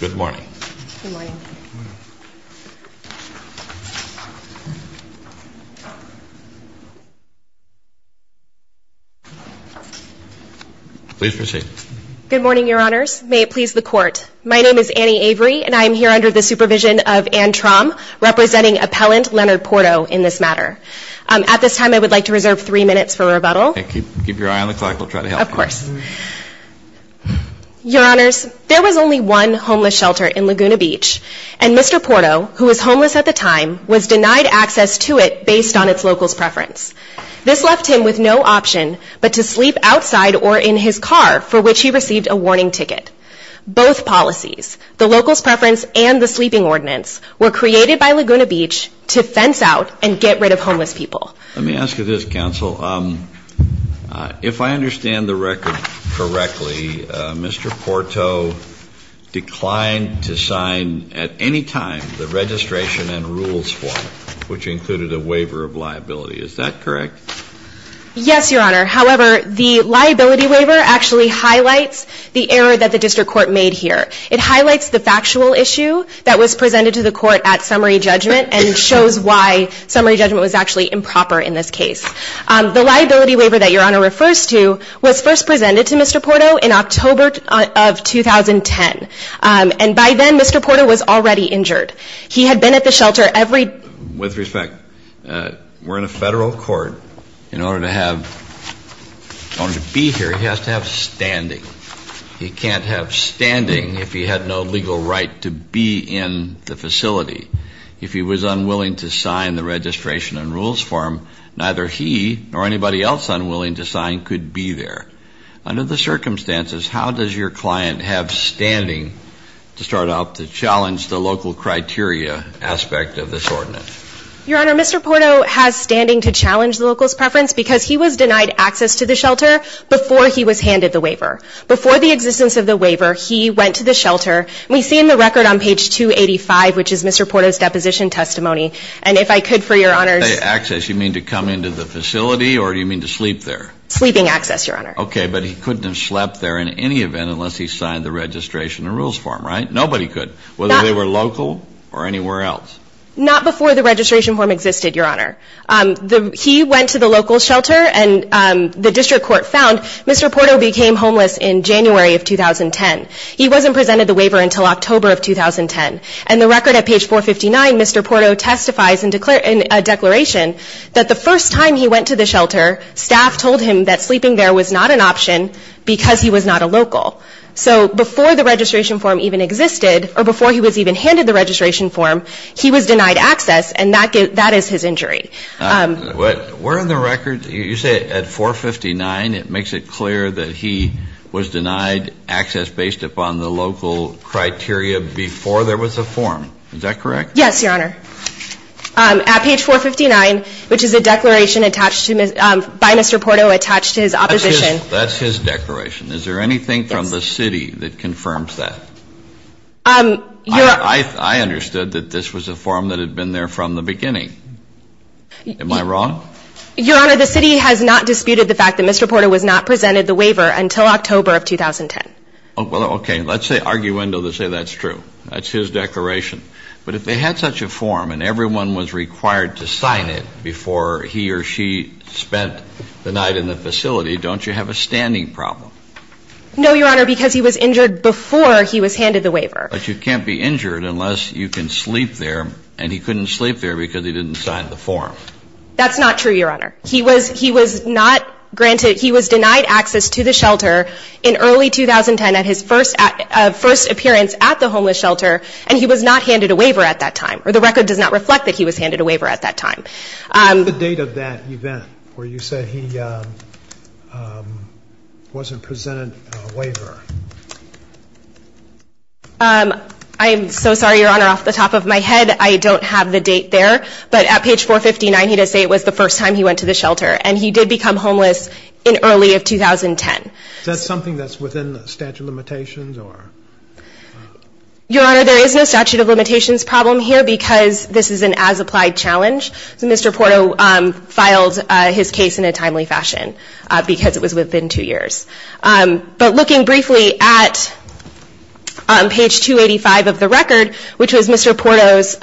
Good morning. Good morning. Please proceed. Good morning, Your Honors. May it please the Court. My name is Annie Avery, and I am here under the supervision of Anne Traum, representing Appellant Leonard Porto in this matter. At this time, I would like to reserve three minutes for rebuttal. Keep your eye on the clock. We'll try to help you. Of course. Your Honors, there was only one homeless shelter in Laguna Beach, and Mr. Porto, who was homeless at the time, was denied access to it based on its local's preference. This left him with no option but to sleep outside or in his car, for which he received a warning ticket. Both policies, the local's preference and the sleeping ordinance, were created by Laguna Beach to fence out and get rid of homeless people. Let me ask you this, Counsel. If I understand the record correctly, Mr. Porto declined to sign at any time the registration and rules form, which included a waiver of liability. Is that correct? Yes, Your Honor. However, the liability waiver actually highlights the error that the district court made here. It highlights the factual issue that was presented to the court at summary judgment and shows why summary judgment was actually improper in this case. The liability waiver that Your Honor refers to was first presented to Mr. Porto in October of 2010. And by then, Mr. Porto was already injured. He had been at the shelter every... With respect, we're in a federal court. In order to have, in order to be here, he has to have standing. He can't have standing if he had no legal right to be in the facility. If he was unwilling to sign the registration and rules form, neither he nor anybody else unwilling to sign could be there. Under the circumstances, how does your client have standing to start out to challenge the local criteria aspect of this ordinance? Your Honor, Mr. Porto has standing to challenge the local's preference because he was denied access to the shelter before he was handed the waiver. Before the existence of the waiver, he went to the shelter. We see in the record on page 285, which is Mr. Porto's shelter, he could, for Your Honor's... By access, you mean to come into the facility or do you mean to sleep there? Sleeping access, Your Honor. Okay, but he couldn't have slept there in any event unless he signed the registration and rules form, right? Nobody could. Whether they were local or anywhere else. Not before the registration form existed, Your Honor. He went to the local shelter and the district court found Mr. Porto became homeless in January of 2010. He wasn't presented the waiver until October of 2010. And the record at page 459, Mr. Porto testifies in a declaration that the first time he went to the shelter, staff told him that sleeping there was not an option because he was not a local. So before the registration form even existed or before he was even handed the registration form, he was denied access and that is his injury. Where in the record, you say at 459 it makes it clear that he was denied access based upon the local criteria before there was a form. Is that correct? Yes, Your Honor. At page 459 which is a declaration by Mr. Porto attached to his opposition. That's his declaration. Is there anything from the city that confirms that? I understood that this was a form that had been there from the beginning. Am I wrong? Your Honor, the city has not disputed the fact that Mr. Porto was not presented the waiver until October of 2010. Okay, let's say argue that's true. That's his declaration. But if they had such a form and everyone was required to sign it before he or she spent the night in the facility, don't you have a standing problem? No, Your Honor, because he was injured before he was handed the waiver. But you can't be injured unless you can sleep there and he couldn't sleep there because he didn't sign the form. That's not true, Your Honor. He was not granted, he was denied access to the shelter in early 2010 at his first appearance at the homeless shelter and he was not handed a waiver at that time. Or the record does not reflect that he was handed a waiver at that time. What is the date of that event where you say he wasn't presented a waiver? I'm so sorry, Your Honor, off the top of my head, I don't have the date there. But at page 459 he does say it was the first time he went to the shelter. And he did become homeless in early of 2010. Is that something that's within the statute of limitations? Your Honor, there is no statute of limitations problem here because this is an as-applied challenge. So Mr. Porto filed his case in a timely fashion because it was within two years. But looking briefly at page 285 of the record, which was Mr. Porto's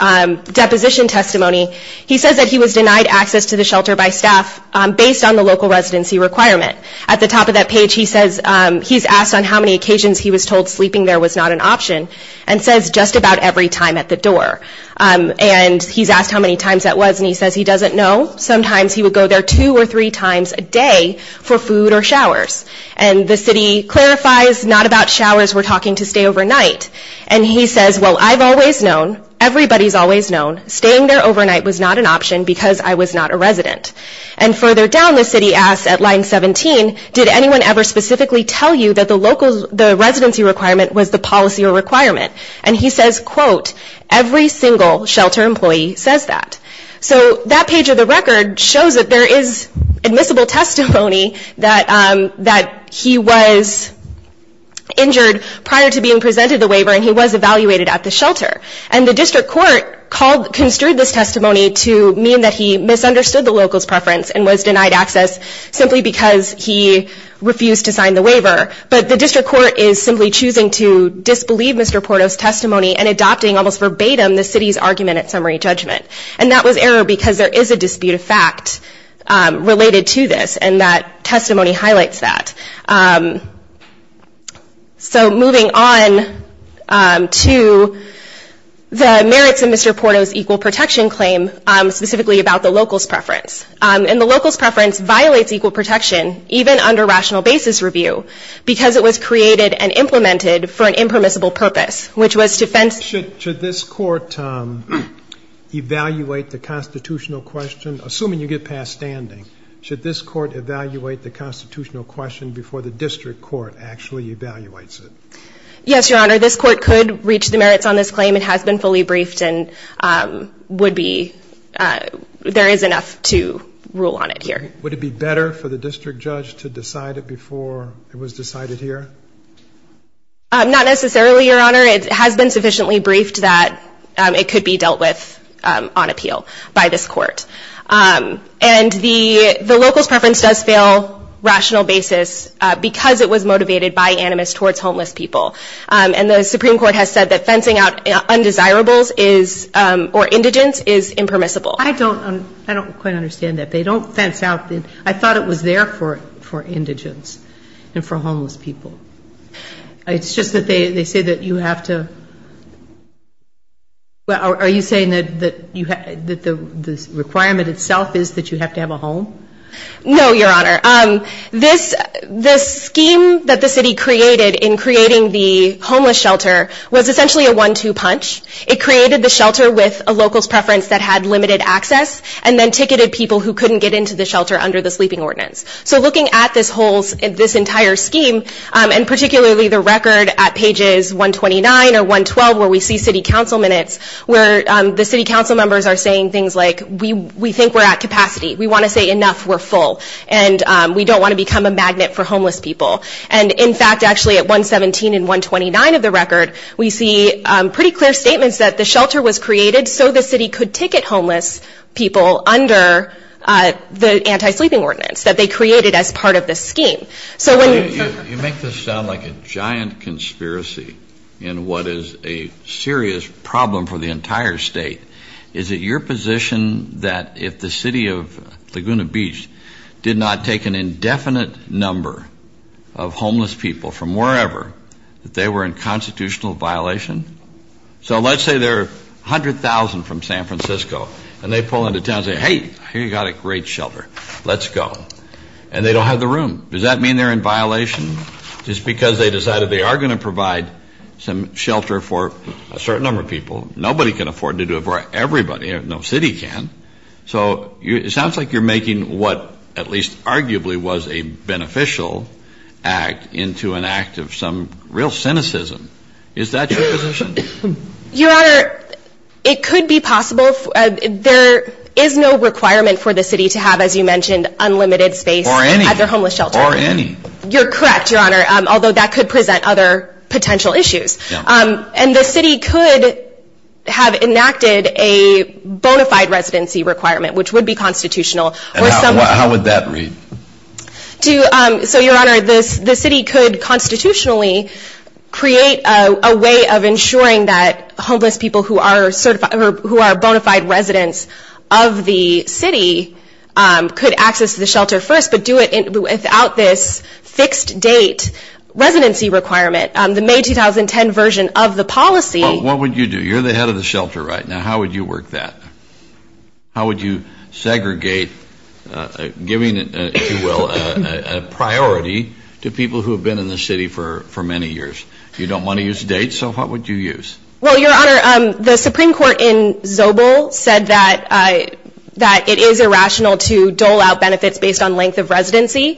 deposition testimony, he says that he was denied access to the shelter by staff based on the local residency requirement. At the top of that page he says he's asked on how many occasions he was told sleeping there was not an option and says just about every time at the door. And he's asked how many times that was and he says he doesn't know. Sometimes he would go there two or three times a day for food or showers. And the city clarifies not about showers, we're talking to stay overnight. And he says, well, I've always known, everybody's always known, staying there overnight was not an option because I was not a resident. And further down the city asks at line 17, did anyone ever specifically tell you that the residency requirement was the policy or requirement? And he says, quote, every single shelter employee says that. So that page of the record shows that there is admissible testimony that he was injured prior to being presented the waiver and he was evaluated at the shelter. And the district court construed this testimony to mean that he misunderstood the local's preference and was denied access simply because he refused to sign the waiver. But the district court is simply choosing to disbelieve Mr. Porto's testimony and adopting almost verbatim the city's argument at summary judgment. And that was error because there is a dispute of fact related to this and that testimony highlights that. So moving on to the merits of Mr. Porto's claim, which is specifically about the local's preference. And the local's preference violates equal protection even under rational basis review because it was created and implemented for an impermissible purpose, which was to fence Should this court evaluate the constitutional question, assuming you get past standing, should this court evaluate the constitutional question before the district court actually evaluates it? Yes, Your Honor. This court could reach the merits on this claim. It has been fully reviewed. There is enough to rule on it here. Would it be better for the district judge to decide it before it was decided here? Not necessarily, Your Honor. It has been sufficiently briefed that it could be dealt with on appeal by this court. And the local's preference does fail rational basis because it was motivated by animus towards homeless people. And the Supreme Court has said that fencing out undesirables is or indigents is impermissible. I don't quite understand that. I thought it was there for indigents and for homeless people. It's just that they say that you have to, are you saying that the requirement itself is that you have to have a home? No, Your Honor. The scheme that the city created in creating the homeless shelter was essentially a shelter with a local's preference that had limited access and then ticketed people who couldn't get into the shelter under the sleeping ordinance. So looking at this entire scheme and particularly the record at pages 129 or 112 where we see city council minutes where the city council members are saying things like we think we're at capacity. We want to say enough. We're full. And we don't want to become a magnet for homeless people. And in fact actually at 117 and 129 of the record we see pretty clear statements that the shelter was created so the city could ticket homeless people under the anti-sleeping ordinance that they created as part of the scheme. You make this sound like a giant conspiracy in what is a serious problem for the entire state. Is it your position that if the city of Laguna Beach did not take an indefinite number of homeless people from wherever that they were in constitutional violation? So let's say there are 100,000 from San Francisco and they pull into town and say hey here you've got a great shelter. Let's go. And they don't have the room. Does that mean they're in violation? Just because they decided they are going to provide some shelter for a certain number of people. Nobody can afford to do it for everybody. No city can. So it sounds like you're making what at least arguably was a beneficial act into an act of some real cynicism. Is that your position? Your Honor, it could be possible. There is no requirement for the city to have as you mentioned unlimited space. Or any. At their homeless shelter. Or any. You're correct Your Honor. Although that could present other potential issues. And the city could have enacted a bona fide residency requirement which would be constitutional. How would that read? So Your Honor, the city could constitutionally create a way of ensuring that homeless people who are bona fide residents of the city could access the shelter first. But do it without this fixed date residency requirement. The May 2010 version of the policy. What would you do? You're the head of the shelter right now. How would you work that? How would you segregate giving, if you will, a priority to people who have been in the city for many years? You don't want to use dates, so what would you use? Well, Your Honor, the Supreme Court in Zobel said that it is irrational to dole out benefits based on length of residency.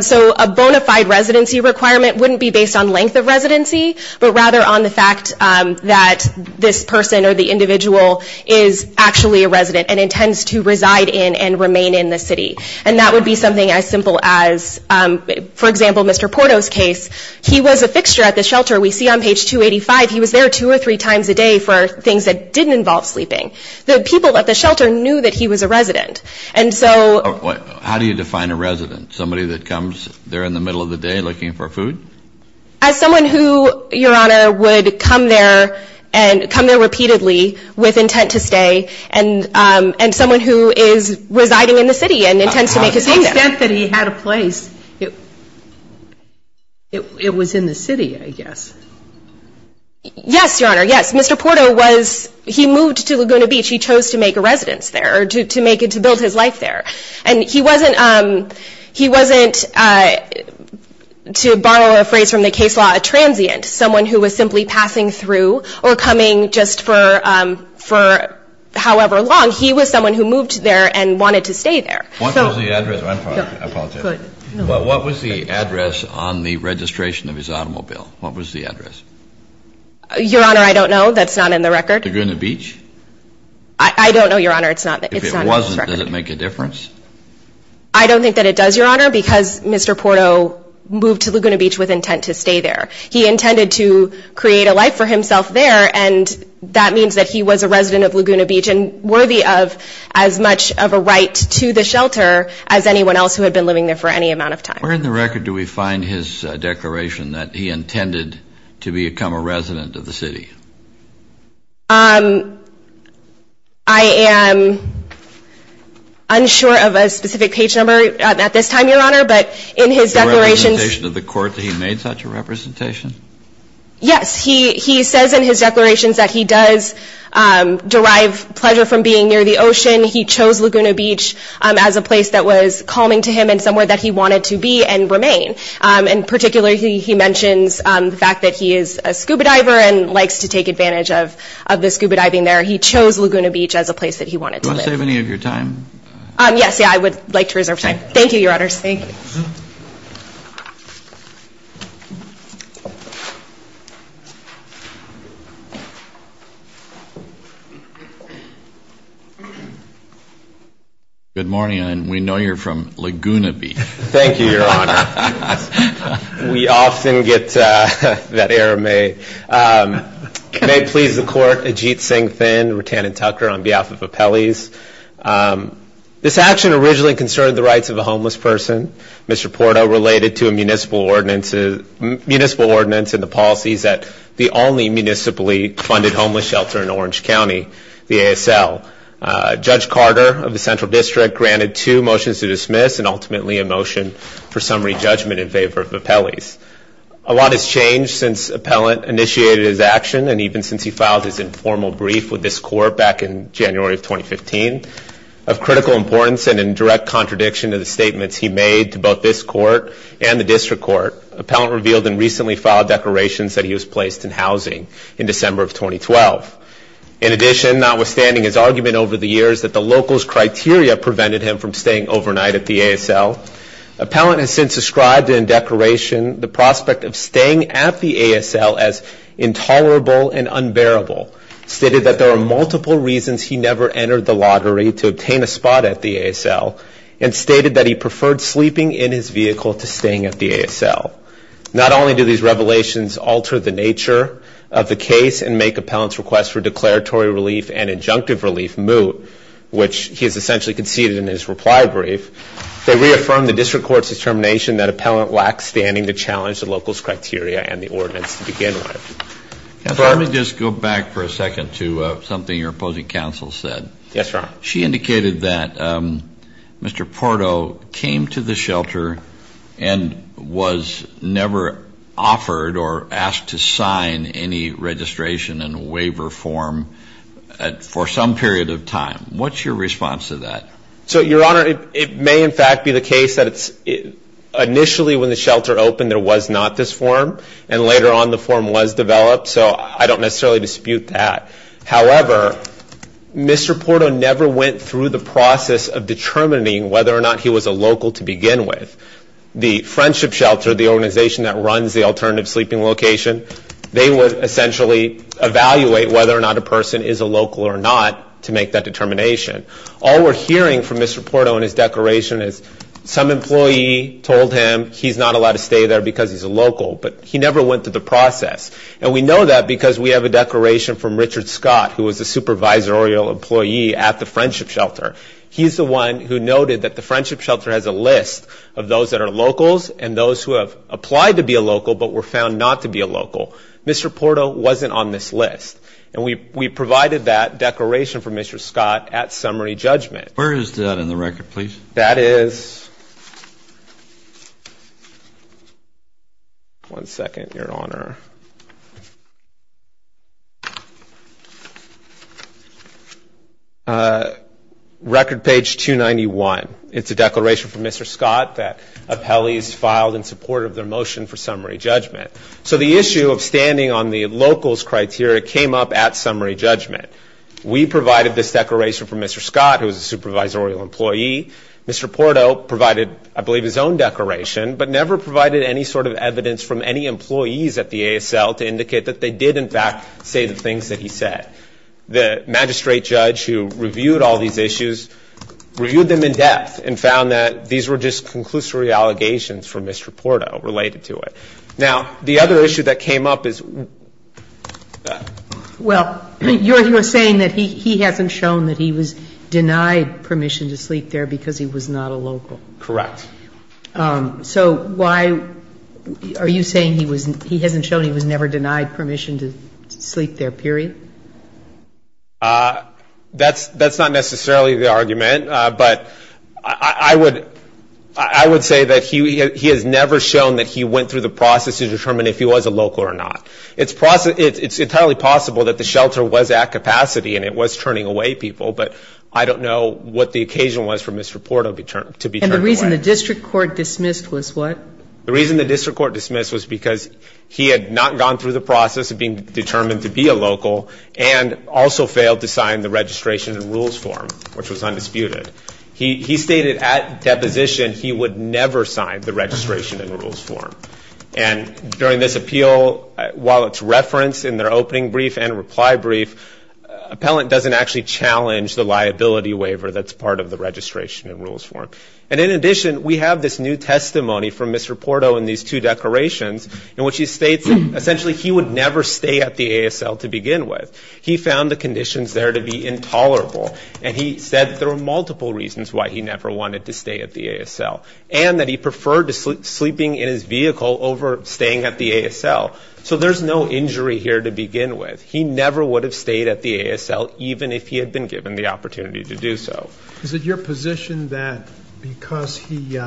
So a bona fide residency requirement wouldn't be based on length of residency, but rather on the fact that this person or the individual is actually a resident and intends to reside in and remain in the city. And that would be something as simple as for example, Mr. Porto's case, he was a fixture at the shelter. We see on page 285 he was there two or three times a day for things that didn't involve sleeping. The people at the shelter knew that he was a resident. And so... How do you define a resident? Somebody that comes there in the middle of the day looking for food? As someone who, Your Honor, would come there and come there repeatedly with intent to make a stay there. The extent that he had a place, it was in the city, I guess. Yes, Your Honor, yes. Mr. Porto was, he moved to Laguna Beach. He chose to make a residence there, to make it, to build his life there. And he wasn't, he wasn't, to borrow a phrase from the case law, a transient. Someone who was simply passing through or coming just for however long. He was someone who moved there and wanted to stay there. What was the address on the registration of his automobile? What was the address? Your Honor, I don't know. That's not in the record. Laguna Beach? I don't know, Your Honor. It's not in this record. If it wasn't, does it make a difference? I don't think that it does, Your Honor, because Mr. Porto moved to Laguna Beach with intent to stay there. He intended to create a life for himself there and that means that he was a resident of as much of a right to the shelter as anyone else who had been living there for any amount of time. Where in the record do we find his declaration that he intended to become a resident of the city? I am unsure of a specific page number at this time, Your Honor, but in his declarations. The representation of the court that he made such a representation? Yes, he says in his declarations that he does derive pleasure from being near the ocean. He chose Laguna Beach as a place that was calming to him and somewhere that he wanted to be and remain. In particular, he mentions the fact that he is a scuba diver and likes to take advantage of the scuba diving there. He chose Laguna Beach as a place that he wanted to live. Do you want to save any of your time? Yes, I would like to reserve time. Thank you, Your Honors. Good morning, and we know you're from Laguna Beach. Thank you, Your Honor. We often get that error made. May it please the court, Ajit Singh Thin, Rutan and Tucker, on behalf of Appellees. This action originally concerned the rights of a homeless person. Mr. Porto related to a municipal ordinance and the policies that the only municipally funded homeless shelter in Orange County, the ASL. Judge Carter of the Central District granted two motions to dismiss and ultimately a motion for summary judgment in favor of Appellees. A lot has changed since Appellant initiated his action and even since he filed his informal brief with this court back in January of 2015. Of critical importance and in direct contradiction to the statements he made to both this court and the district court, Appellant revealed in recently filed declarations that he was placed in housing in December of 2012. In addition, notwithstanding his argument over the years that the local's criteria prevented him from staying overnight at the ASL, Appellant has since described in declaration the prospect of staying at the ASL as intolerable and unbearable, stated that there are multiple reasons he never entered the lottery to obtain a spot at the ASL, and stated that he preferred sleeping in his vehicle to staying at the ASL. Not only do these revelations alter the nature of the case and make Appellant's request for declaratory relief and injunctive relief moot, which he has essentially conceded in his reply brief, they reaffirm the district court's determination that Appellant lacks standing to challenge the local's criteria and the ordinance to begin with. Let me just go back for a second to something your opposing counsel said. Yes, sir. She indicated that Mr. Porto came to the shelter and was never offered or asked to sign any registration and waiver form for some period of time. What's your response to that? So, your honor, it may in fact be the case that initially when the shelter opened there was not this form, and later on the form was developed, so I don't necessarily dispute that. However, Mr. Porto never went through the process of determining whether or not he was a local to begin with. The Friendship Shelter, the organization that runs the alternative sleeping location, they would essentially evaluate whether or not a person is a local or not to make that determination. All we're hearing from Mr. Porto in his declaration is some employee told him he's not allowed to stay there because he's a local, but he never went through the process. And we know that because we have a declaration from Richard Scott, who was a supervisorial employee at the Friendship Shelter. He's the one who noted that the Friendship Shelter is for those that are locals and those who have applied to be a local but were found not to be a local. Mr. Porto wasn't on this list. And we provided that declaration from Mr. Scott at summary judgment. Where is that in the record, please? That is one second, your honor. Record page 291. It's a declaration from Mr. Scott that appellees filed in support of their motion for summary judgment. So the issue of standing on the locals criteria came up at summary judgment. We provided this declaration from Mr. Scott, who was a supervisorial employee. Mr. Porto provided I believe his own declaration, but never provided any sort of evidence from any employees at the ASL to indicate that they did in fact say the things that he said. The magistrate judge who reviewed all these issues reviewed them in depth and found that these were just conclusory allegations from Mr. Porto related to it. Now, the other issue that came up is Well, you're saying that he hasn't shown that he was denied permission to sleep there because he was not a local. Correct. So why are you saying he hasn't shown he was never denied permission to sleep there, period? That's not necessarily the argument, but I would say that he has never shown that he went through the process to determine if he was a local or not. It's entirely possible that the shelter was at capacity and it was turning away people, but I don't know what the occasion was for Mr. Porto to be turned away. And the reason the district court dismissed was what? The reason the district court dismissed was because he had not gone through the process of being determined to be a local and also failed to sign the registration and rules form, which was undisputed. He stated at deposition he would never sign the registration and rules form. And during this appeal, while it's referenced in their opening brief and reply brief, appellant doesn't actually challenge the liability waiver that's part of the registration and rules form. And in addition, we have this new testimony from Mr. Porto in these two declarations in which he states essentially he would never stay at the ASL to begin with. He found the conditions there to be intolerable. And he said there were multiple reasons why he never wanted to stay at the ASL. And that he preferred sleeping in his vehicle over staying at the ASL. So there's no injury here to begin with. He never would have stayed at the ASL even if he had been given the opportunity to do so. Is it your position that because he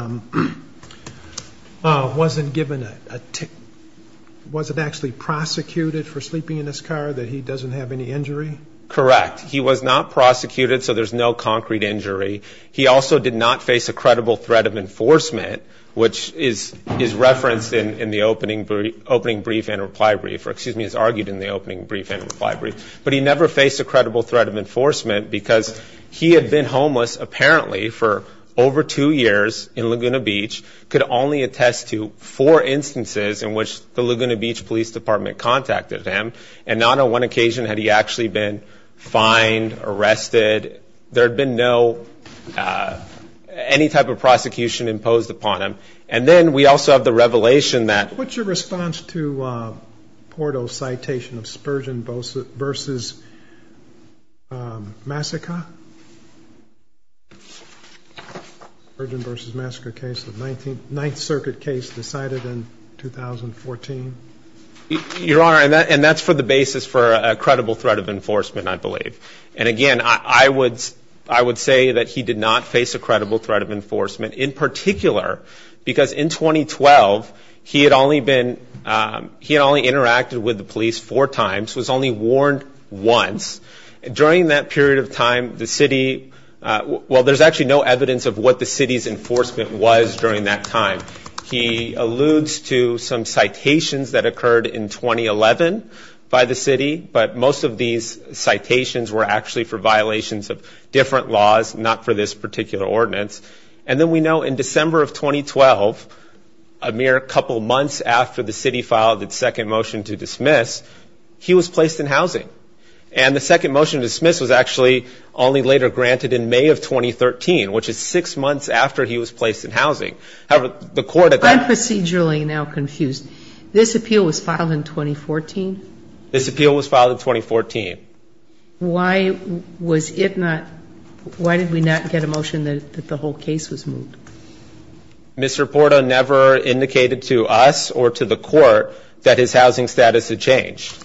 wasn't given a ticket, he wasn't actually prosecuted for sleeping in his car, that he doesn't have any injury? Correct. He was not prosecuted, so there's no concrete injury. He also did not face a credible threat of enforcement, which is referenced in the opening brief and reply brief, or excuse me, is argued in the opening brief and reply brief. But he never faced a credible threat of enforcement because he had been homeless apparently for over two years in Laguna Beach, could only attest to four instances in which the Laguna Beach Police Department contacted him. And not on one occasion had he actually been fined, arrested. There had been no, any type of prosecution imposed upon him. And then we also have the revelation that... What's your response to Porto's citation of Spurgeon versus Massacre? Spurgeon versus Massacre case, the Ninth Circuit case decided in 2014? Your Honor, and that's for the basis for a credible threat of enforcement, I believe. And again, I would say that he did not face a credible threat of enforcement, in particular, because in 2012, he had only been, he had only interacted with the police four times, was only warned once. During that period of time, the city, well, there's actually no indication of what the threat of enforcement was during that time. He alludes to some citations that occurred in 2011 by the city, but most of these citations were actually for violations of different laws, not for this particular ordinance. And then we know in December of 2012, a mere couple months after the city filed its second motion to dismiss, he was placed in housing. And the second motion to dismiss was actually only later granted in May of 2013, which is six months after he was placed in housing. However, the court at that time... I'm procedurally now confused. This appeal was filed in 2014? This appeal was filed in 2014. Why was it not, why did we not get a motion that the whole case was moved? Mr. Porta never indicated to us or to the court that his housing status had changed.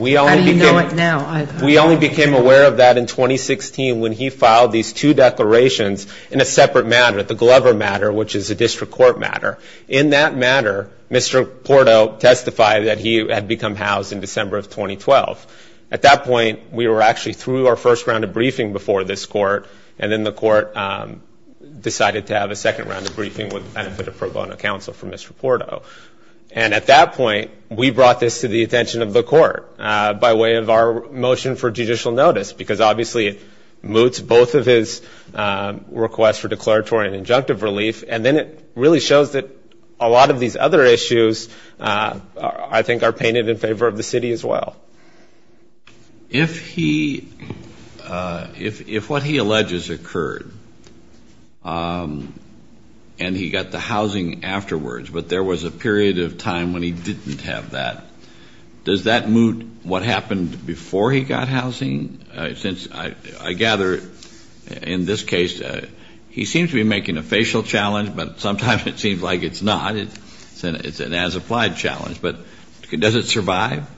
How do you know it now? We only became aware of that in 2016 when he filed these two declarations in a separate matter, the Glover matter, which is a district court matter. In that matter, Mr. Porta testified that he had become housed in December of 2012. At that point, we were actually through our first round of briefing before this court, and then the court decided to have a second round of briefing with the benefit of pro bono counsel from Mr. Porta. And at that point, we brought this to the attention of the court by way of our motion for judicial notice, because obviously it moots both of his requests for declaratory and injunctive relief, and then it really shows that a lot of these other issues, I think, are painted in favor of the city as well. If he, if what he alleges occurred and he got the housing afterwards, but there was a period of time when he didn't have that, does that moot what happened before he got housing? Since I gather in this case, he seems to be making a facial challenge, but sometimes it seems like it's not. It's an as-applied challenge. But does it survive?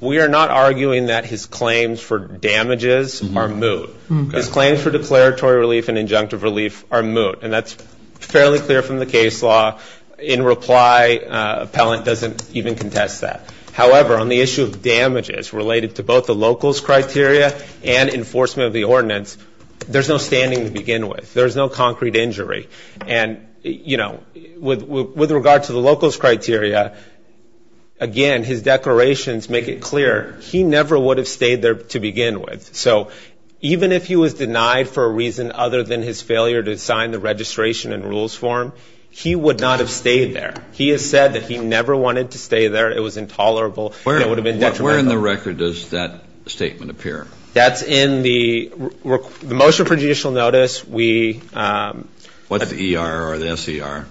We are not arguing that his claims for damages are moot. His claims for declaratory relief and injunctive relief are moot, and that's fairly clear from the case law. In reply, appellant doesn't even contest that. However, on the issue of damages related to both the local's criteria and enforcement of the ordinance, there's no standing to begin with. There's no concrete injury. And, you know, with regard to the local's criteria, again, his declarations make it clear he never would have stayed there to begin with. So even if he was denied for a reason other than his failure to sign the registration and rules form, he would not have stayed there. He has said that he never wanted to stay there. It was intolerable. Where in the record does that statement appear? That's in the motion for judicial notice. What's the ER or the SER?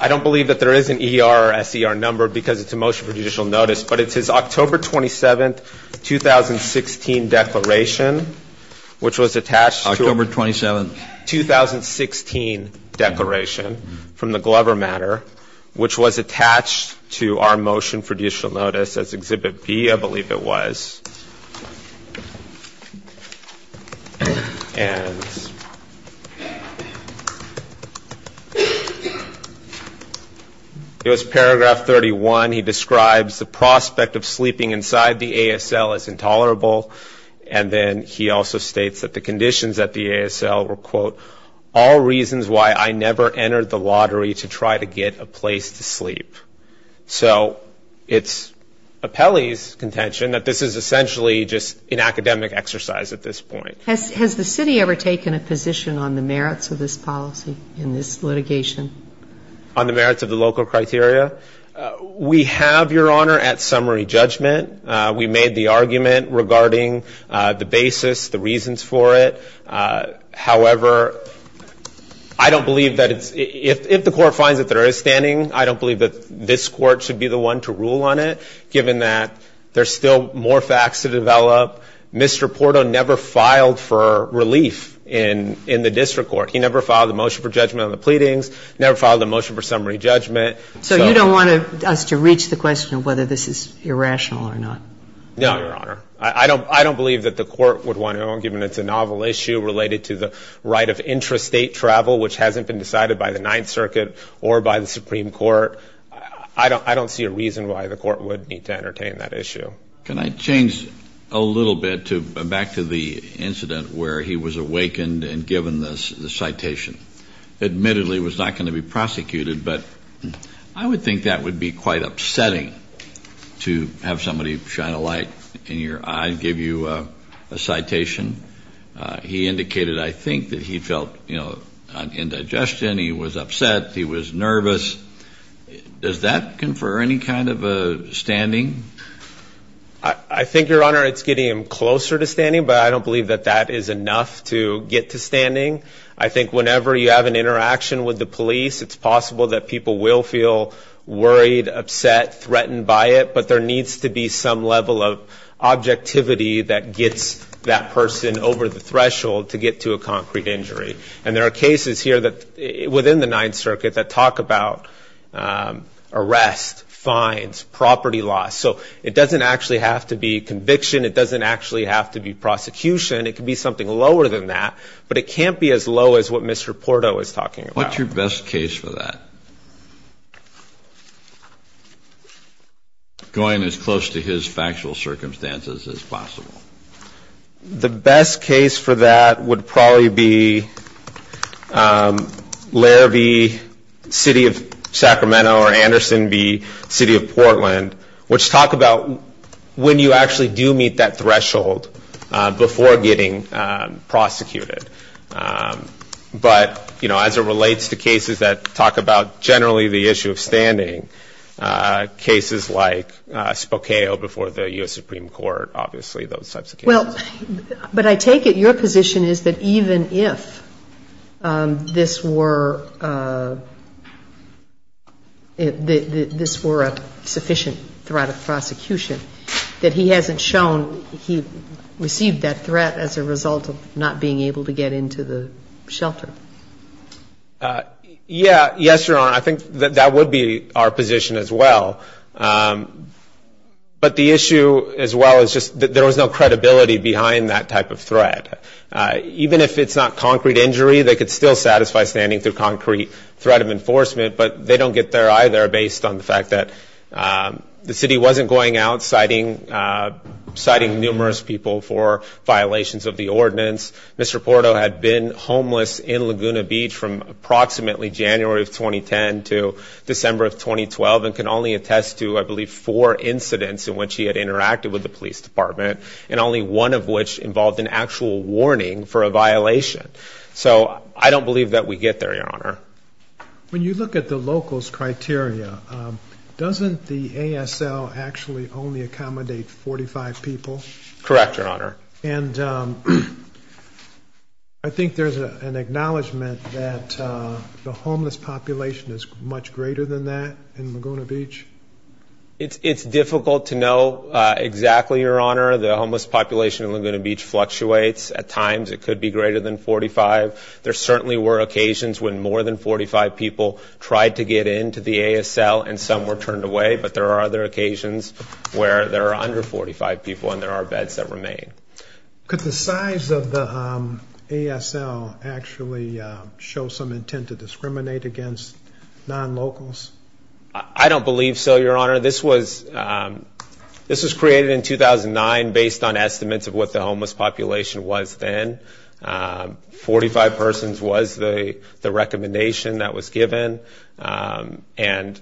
I don't believe that there is an ER or SER number because it's a motion for judicial notice, but it's his October 27, 2016 declaration, which was attached to October 27, 2016 declaration from the Glover matter, which was attached to our motion for judicial notice as Exhibit B, I believe it was. And it was paragraph 31. He describes the prospect of sleeping inside the ASL as intolerable, and then he also states that the conditions at the ASL were all reasons why I never entered the lottery to try to get a place to sleep. So it's Apelli's contention that this is essentially just an academic exercise at this point. Has the city ever taken a position on the merits of this policy in this litigation? On the merits of the local criteria? We have, Your Honor, at summary judgment. We made the argument regarding the basis, the reasons for it. However, I don't believe that it's if the court finds that there is standing, I don't believe that this court should be the one to rule on it, given that there's still more facts to develop. Mr. Porto never filed for relief in the district court. He never filed a motion for judgment on the pleadings, never filed a motion for judgment on the pleadings. I don't want us to reach the question of whether this is irrational or not. No, Your Honor. I don't believe that the court would want to own, given it's a novel issue related to the right of intrastate travel, which hasn't been decided by the Ninth Circuit or by the Supreme Court. I don't see a reason why the court would need to entertain that issue. Can I change a little bit back to the incident where he was awakened and given the citation? Admittedly, it was not going to be prosecuted, but I would think that would be quite upsetting to have somebody shine a light in your eye and give you a citation. He indicated, I think, that he felt indigestion, he was upset, he was nervous. Does that confer any kind of a standing? I think, Your Honor, it's getting him closer to standing, but I don't believe that that is enough to get to standing. I think whenever you have an interaction with the police, it's possible that people will feel worried, upset, threatened by it, but there needs to be some level of objectivity that gets that person over the threshold to get to a concrete injury. And there are cases here within the Ninth Circuit that talk about arrest, fines, property loss. So it doesn't actually have to be conviction, it doesn't actually have to be prosecution, it can be something lower than that, but it can't be as low as what Mr. Porto is talking about. What's your best case for that? Going as close to his factual circumstances as possible. The best case for that would probably be Larrabee, City of Sacramento, or Anderson v. City of Portland, which talk about when you actually do meet that threshold before getting prosecuted. But as it relates to cases that talk about generally the issue of standing, cases like Spokale before the U.S. Supreme Court, obviously those types of cases. But I take it your position is that even if this were a sufficient threat of prosecution, that he hasn't shown he received that threat as a result of not being able to get into the shelter. Yes, Your Honor. I think that would be our position as well. But the issue as well is just that there was no credibility behind that type of threat. Even if it's not concrete injury, they could still satisfy standing through concrete threat of enforcement, but they don't get there either based on the fact that the city wasn't going out citing numerous people for violations of the ordinance. Mr. Porto had been homeless in Laguna Beach from approximately January of 2010 to December of 2012 and can only attest to, I believe, four incidents in which he had interacted with the police department and only one of which involved an actual warning for a violation. So I don't believe that we get there, Your Honor. When you look at the local's criteria, doesn't the ASL actually only accommodate 45 people? Correct, Your Honor. I think there's an acknowledgement that the homeless population is much greater than that in Laguna Beach. It's difficult to know exactly, Your Honor. The homeless population in Laguna Beach fluctuates. At times it could be greater than 45. There certainly were occasions when more than 45 people tried to get into the ASL and some were turned away, but there are other occasions where there are under 45 people and there are beds that remain. Could the size of the ASL actually show some intent to discriminate against non-locals? I don't believe so, Your Honor. This was created in 2009 based on estimates of what the homeless population was back then. 45 persons was the recommendation that was given. Again,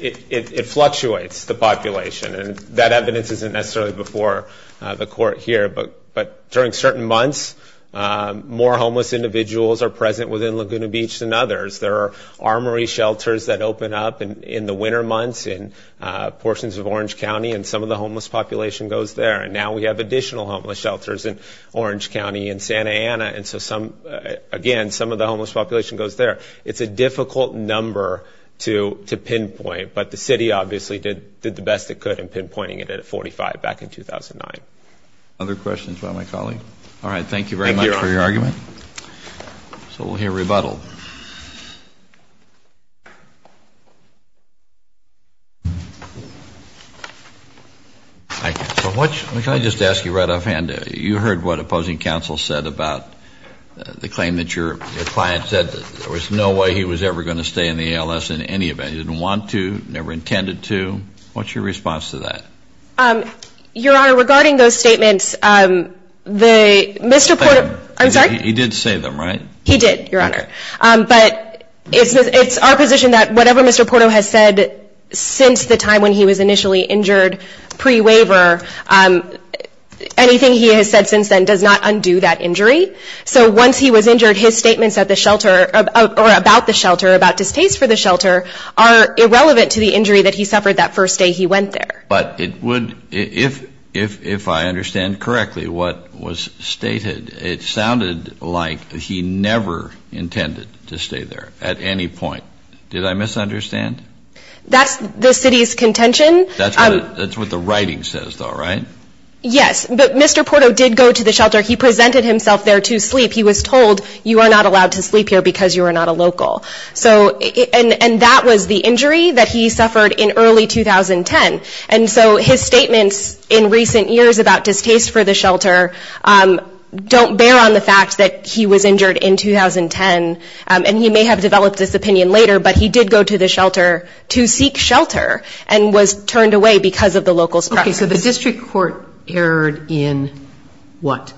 it fluctuates, the population. That evidence isn't necessarily before the Court here, but during certain months more homeless individuals are present within Laguna Beach than others. There are armory shelters that open up in the winter months in portions of Orange County and some of the homeless population goes there. And now we have additional homeless shelters in Orange County and Santa Ana. Again, some of the homeless population goes there. It's a difficult number to pinpoint, but the city obviously did the best it could in pinpointing it at 45 back in 2009. Other questions by my colleague? All right. Thank you very much for your argument. So we'll hear rebuttal. Can I just ask you right offhand? You heard what opposing counsel said about the claim that your client said there was no way he was ever going to stay in the ALS in any event. He didn't want to, never intended to. What's your response to that? Your Honor, regarding those statements, Mr. Porter I'm sorry? He did say them, right? He did, Your Honor. But it's our position that whatever Mr. Porter has said since the time when he was initially injured pre-waiver anything he has said since then does not undo that injury. So once he was injured, his statements at the shelter or about the shelter, about distaste for the shelter, are irrelevant to the injury that he suffered that first day he went there. But if I understand correctly what was stated, it sounded like he never intended to stay there at any point. Did I misunderstand? That's the city's contention. That's what the writing says though, right? Yes. But Mr. Porter did go to the shelter. He presented himself there to sleep. He was told you are not allowed to sleep here because you are not a local. And that was the injury that he suffered in early 2010. So Mr. Porter, don't bear on the fact that he was injured in 2010 and he may have developed this opinion later, but he did go to the shelter to seek shelter and was turned away because of the local's preference. Okay, so the district court erred in what?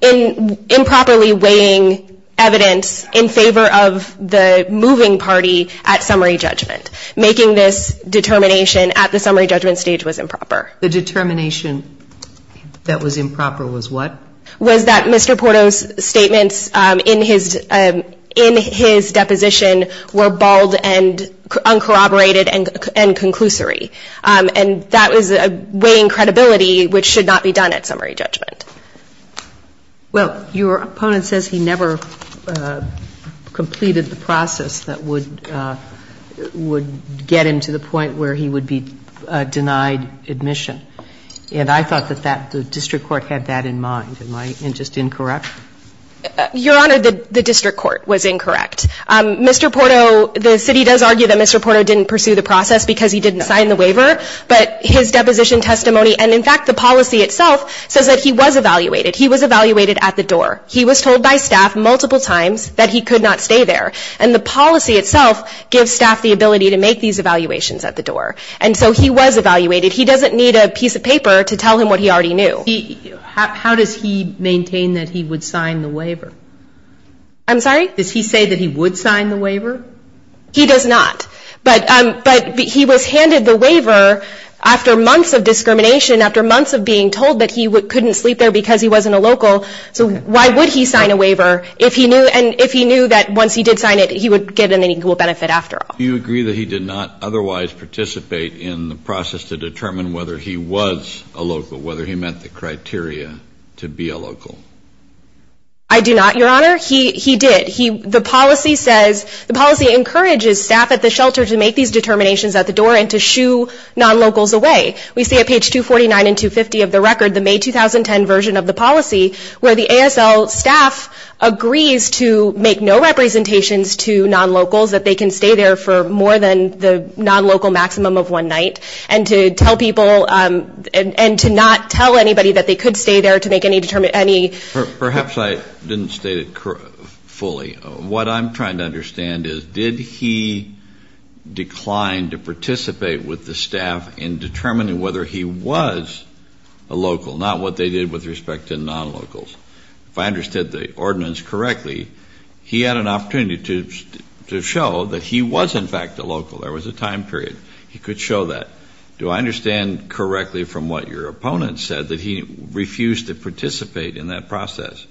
In improperly weighing evidence in favor of the moving party at summary judgment. Making this determination at the summary judgment stage was improper. The determination that was improper was what? Was that Mr. Porter's statements in his deposition were bald and uncorroborated and conclusory. And that was weighing credibility which should not be done at summary judgment. Well, your opponent says he never completed the process that would get him to the point where he would be denied admission. And I thought that the district court had that in mind. Am I just incorrect? Your Honor, the district court was incorrect. Mr. Porto, the city does argue that Mr. Porto didn't pursue the process because he didn't sign the waiver. But his deposition testimony, and in fact the policy itself, says that he was evaluated. He was evaluated at the door. He was told by staff multiple times that he could not stay there. And the policy itself gives staff the ability to make these evaluations at the door. And so he was evaluated. He doesn't need a piece of paper to tell him what he already knew. How does he maintain that he would sign the waiver? I'm sorry? Does he say that he would sign the waiver? He does not. But he was handed the waiver after months of discrimination, after months of being told that he couldn't sleep there because he wasn't a local. So why would he sign a waiver if he knew that once he did sign it he would get an equal benefit after all? Do you agree that he did not otherwise participate in the process to determine whether he was a local, whether he met the criteria to be a local? I do not, Your Honor. He did. The policy says, the policy encourages staff at the shelter to make these determinations at the door and to shoo non-locals away. We see at page 249 and 250 of the record, the May 2010 version of the policy, where the ASL staff agrees to make no representations to non-locals, that they can stay there for more than the non-local maximum of one night, and to tell people and to not tell anybody that they could stay there to make any Perhaps I didn't state it fully. What I'm trying to understand is, did he decline to participate with the staff in determining whether he was a local, not what they did with respect to non-locals? If I understood the ordinance correctly, he had an opportunity to show that he was in fact a local. There was a time period he could show that. Do I understand correctly from what your opponent said, that he refused to participate in that process?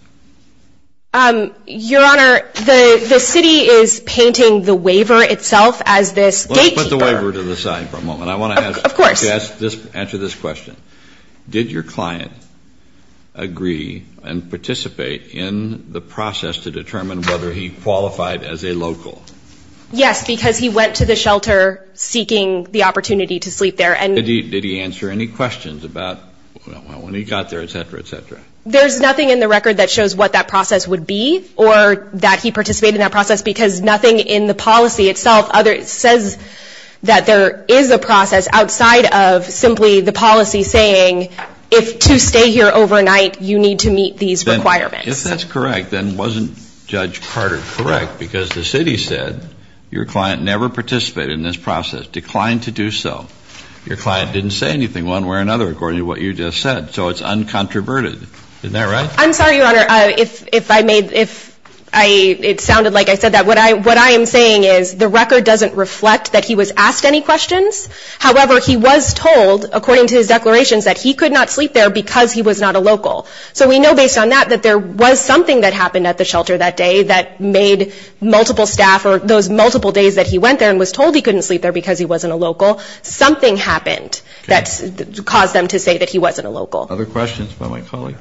Your Honor, the city is painting the waiver itself as this gatekeeper. Let's put the waiver to the side for a moment. Of course. I want to answer this question. Did your client agree and participate in the process to determine whether he qualified as a local? Yes, because he went to the shelter seeking the opportunity to sleep there. Did he answer any questions about when he got there, et cetera, et cetera? There's nothing in the record that shows what that process would be or that he participated in that process, because nothing in the policy itself says that there is a process outside of simply the policy saying if to stay here overnight you need to meet these requirements. If that's correct, then wasn't Judge Carter correct? Because the city said your client never participated in this process, declined to do so. Your client didn't say anything one way or another according to what you just said. So it's uncontroverted. Isn't that right? I'm sorry, Your Honor, if I may if it sounded like I said that. What I am saying is the record doesn't reflect that he was asked any questions. However, he was told according to his declarations that he could not sleep there because he was not a local. So we know based on that that there was something that happened at the shelter that day that made multiple staff or those multiple days that he went there and was told he couldn't sleep there because he wasn't a local. Something happened that caused them to say that he wasn't a local. Other questions by my colleague?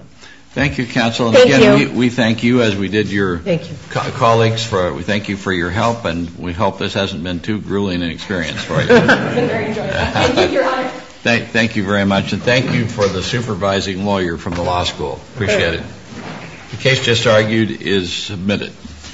Thank you, Counsel. Thank you. We thank you as we did your colleagues. We thank you for your help, and we hope this hasn't been too grueling an experience for you. Thank you, Your Honor. Thank you very much, and thank you for the supervising lawyer from the law school. Appreciate it. The case just argued is submitted.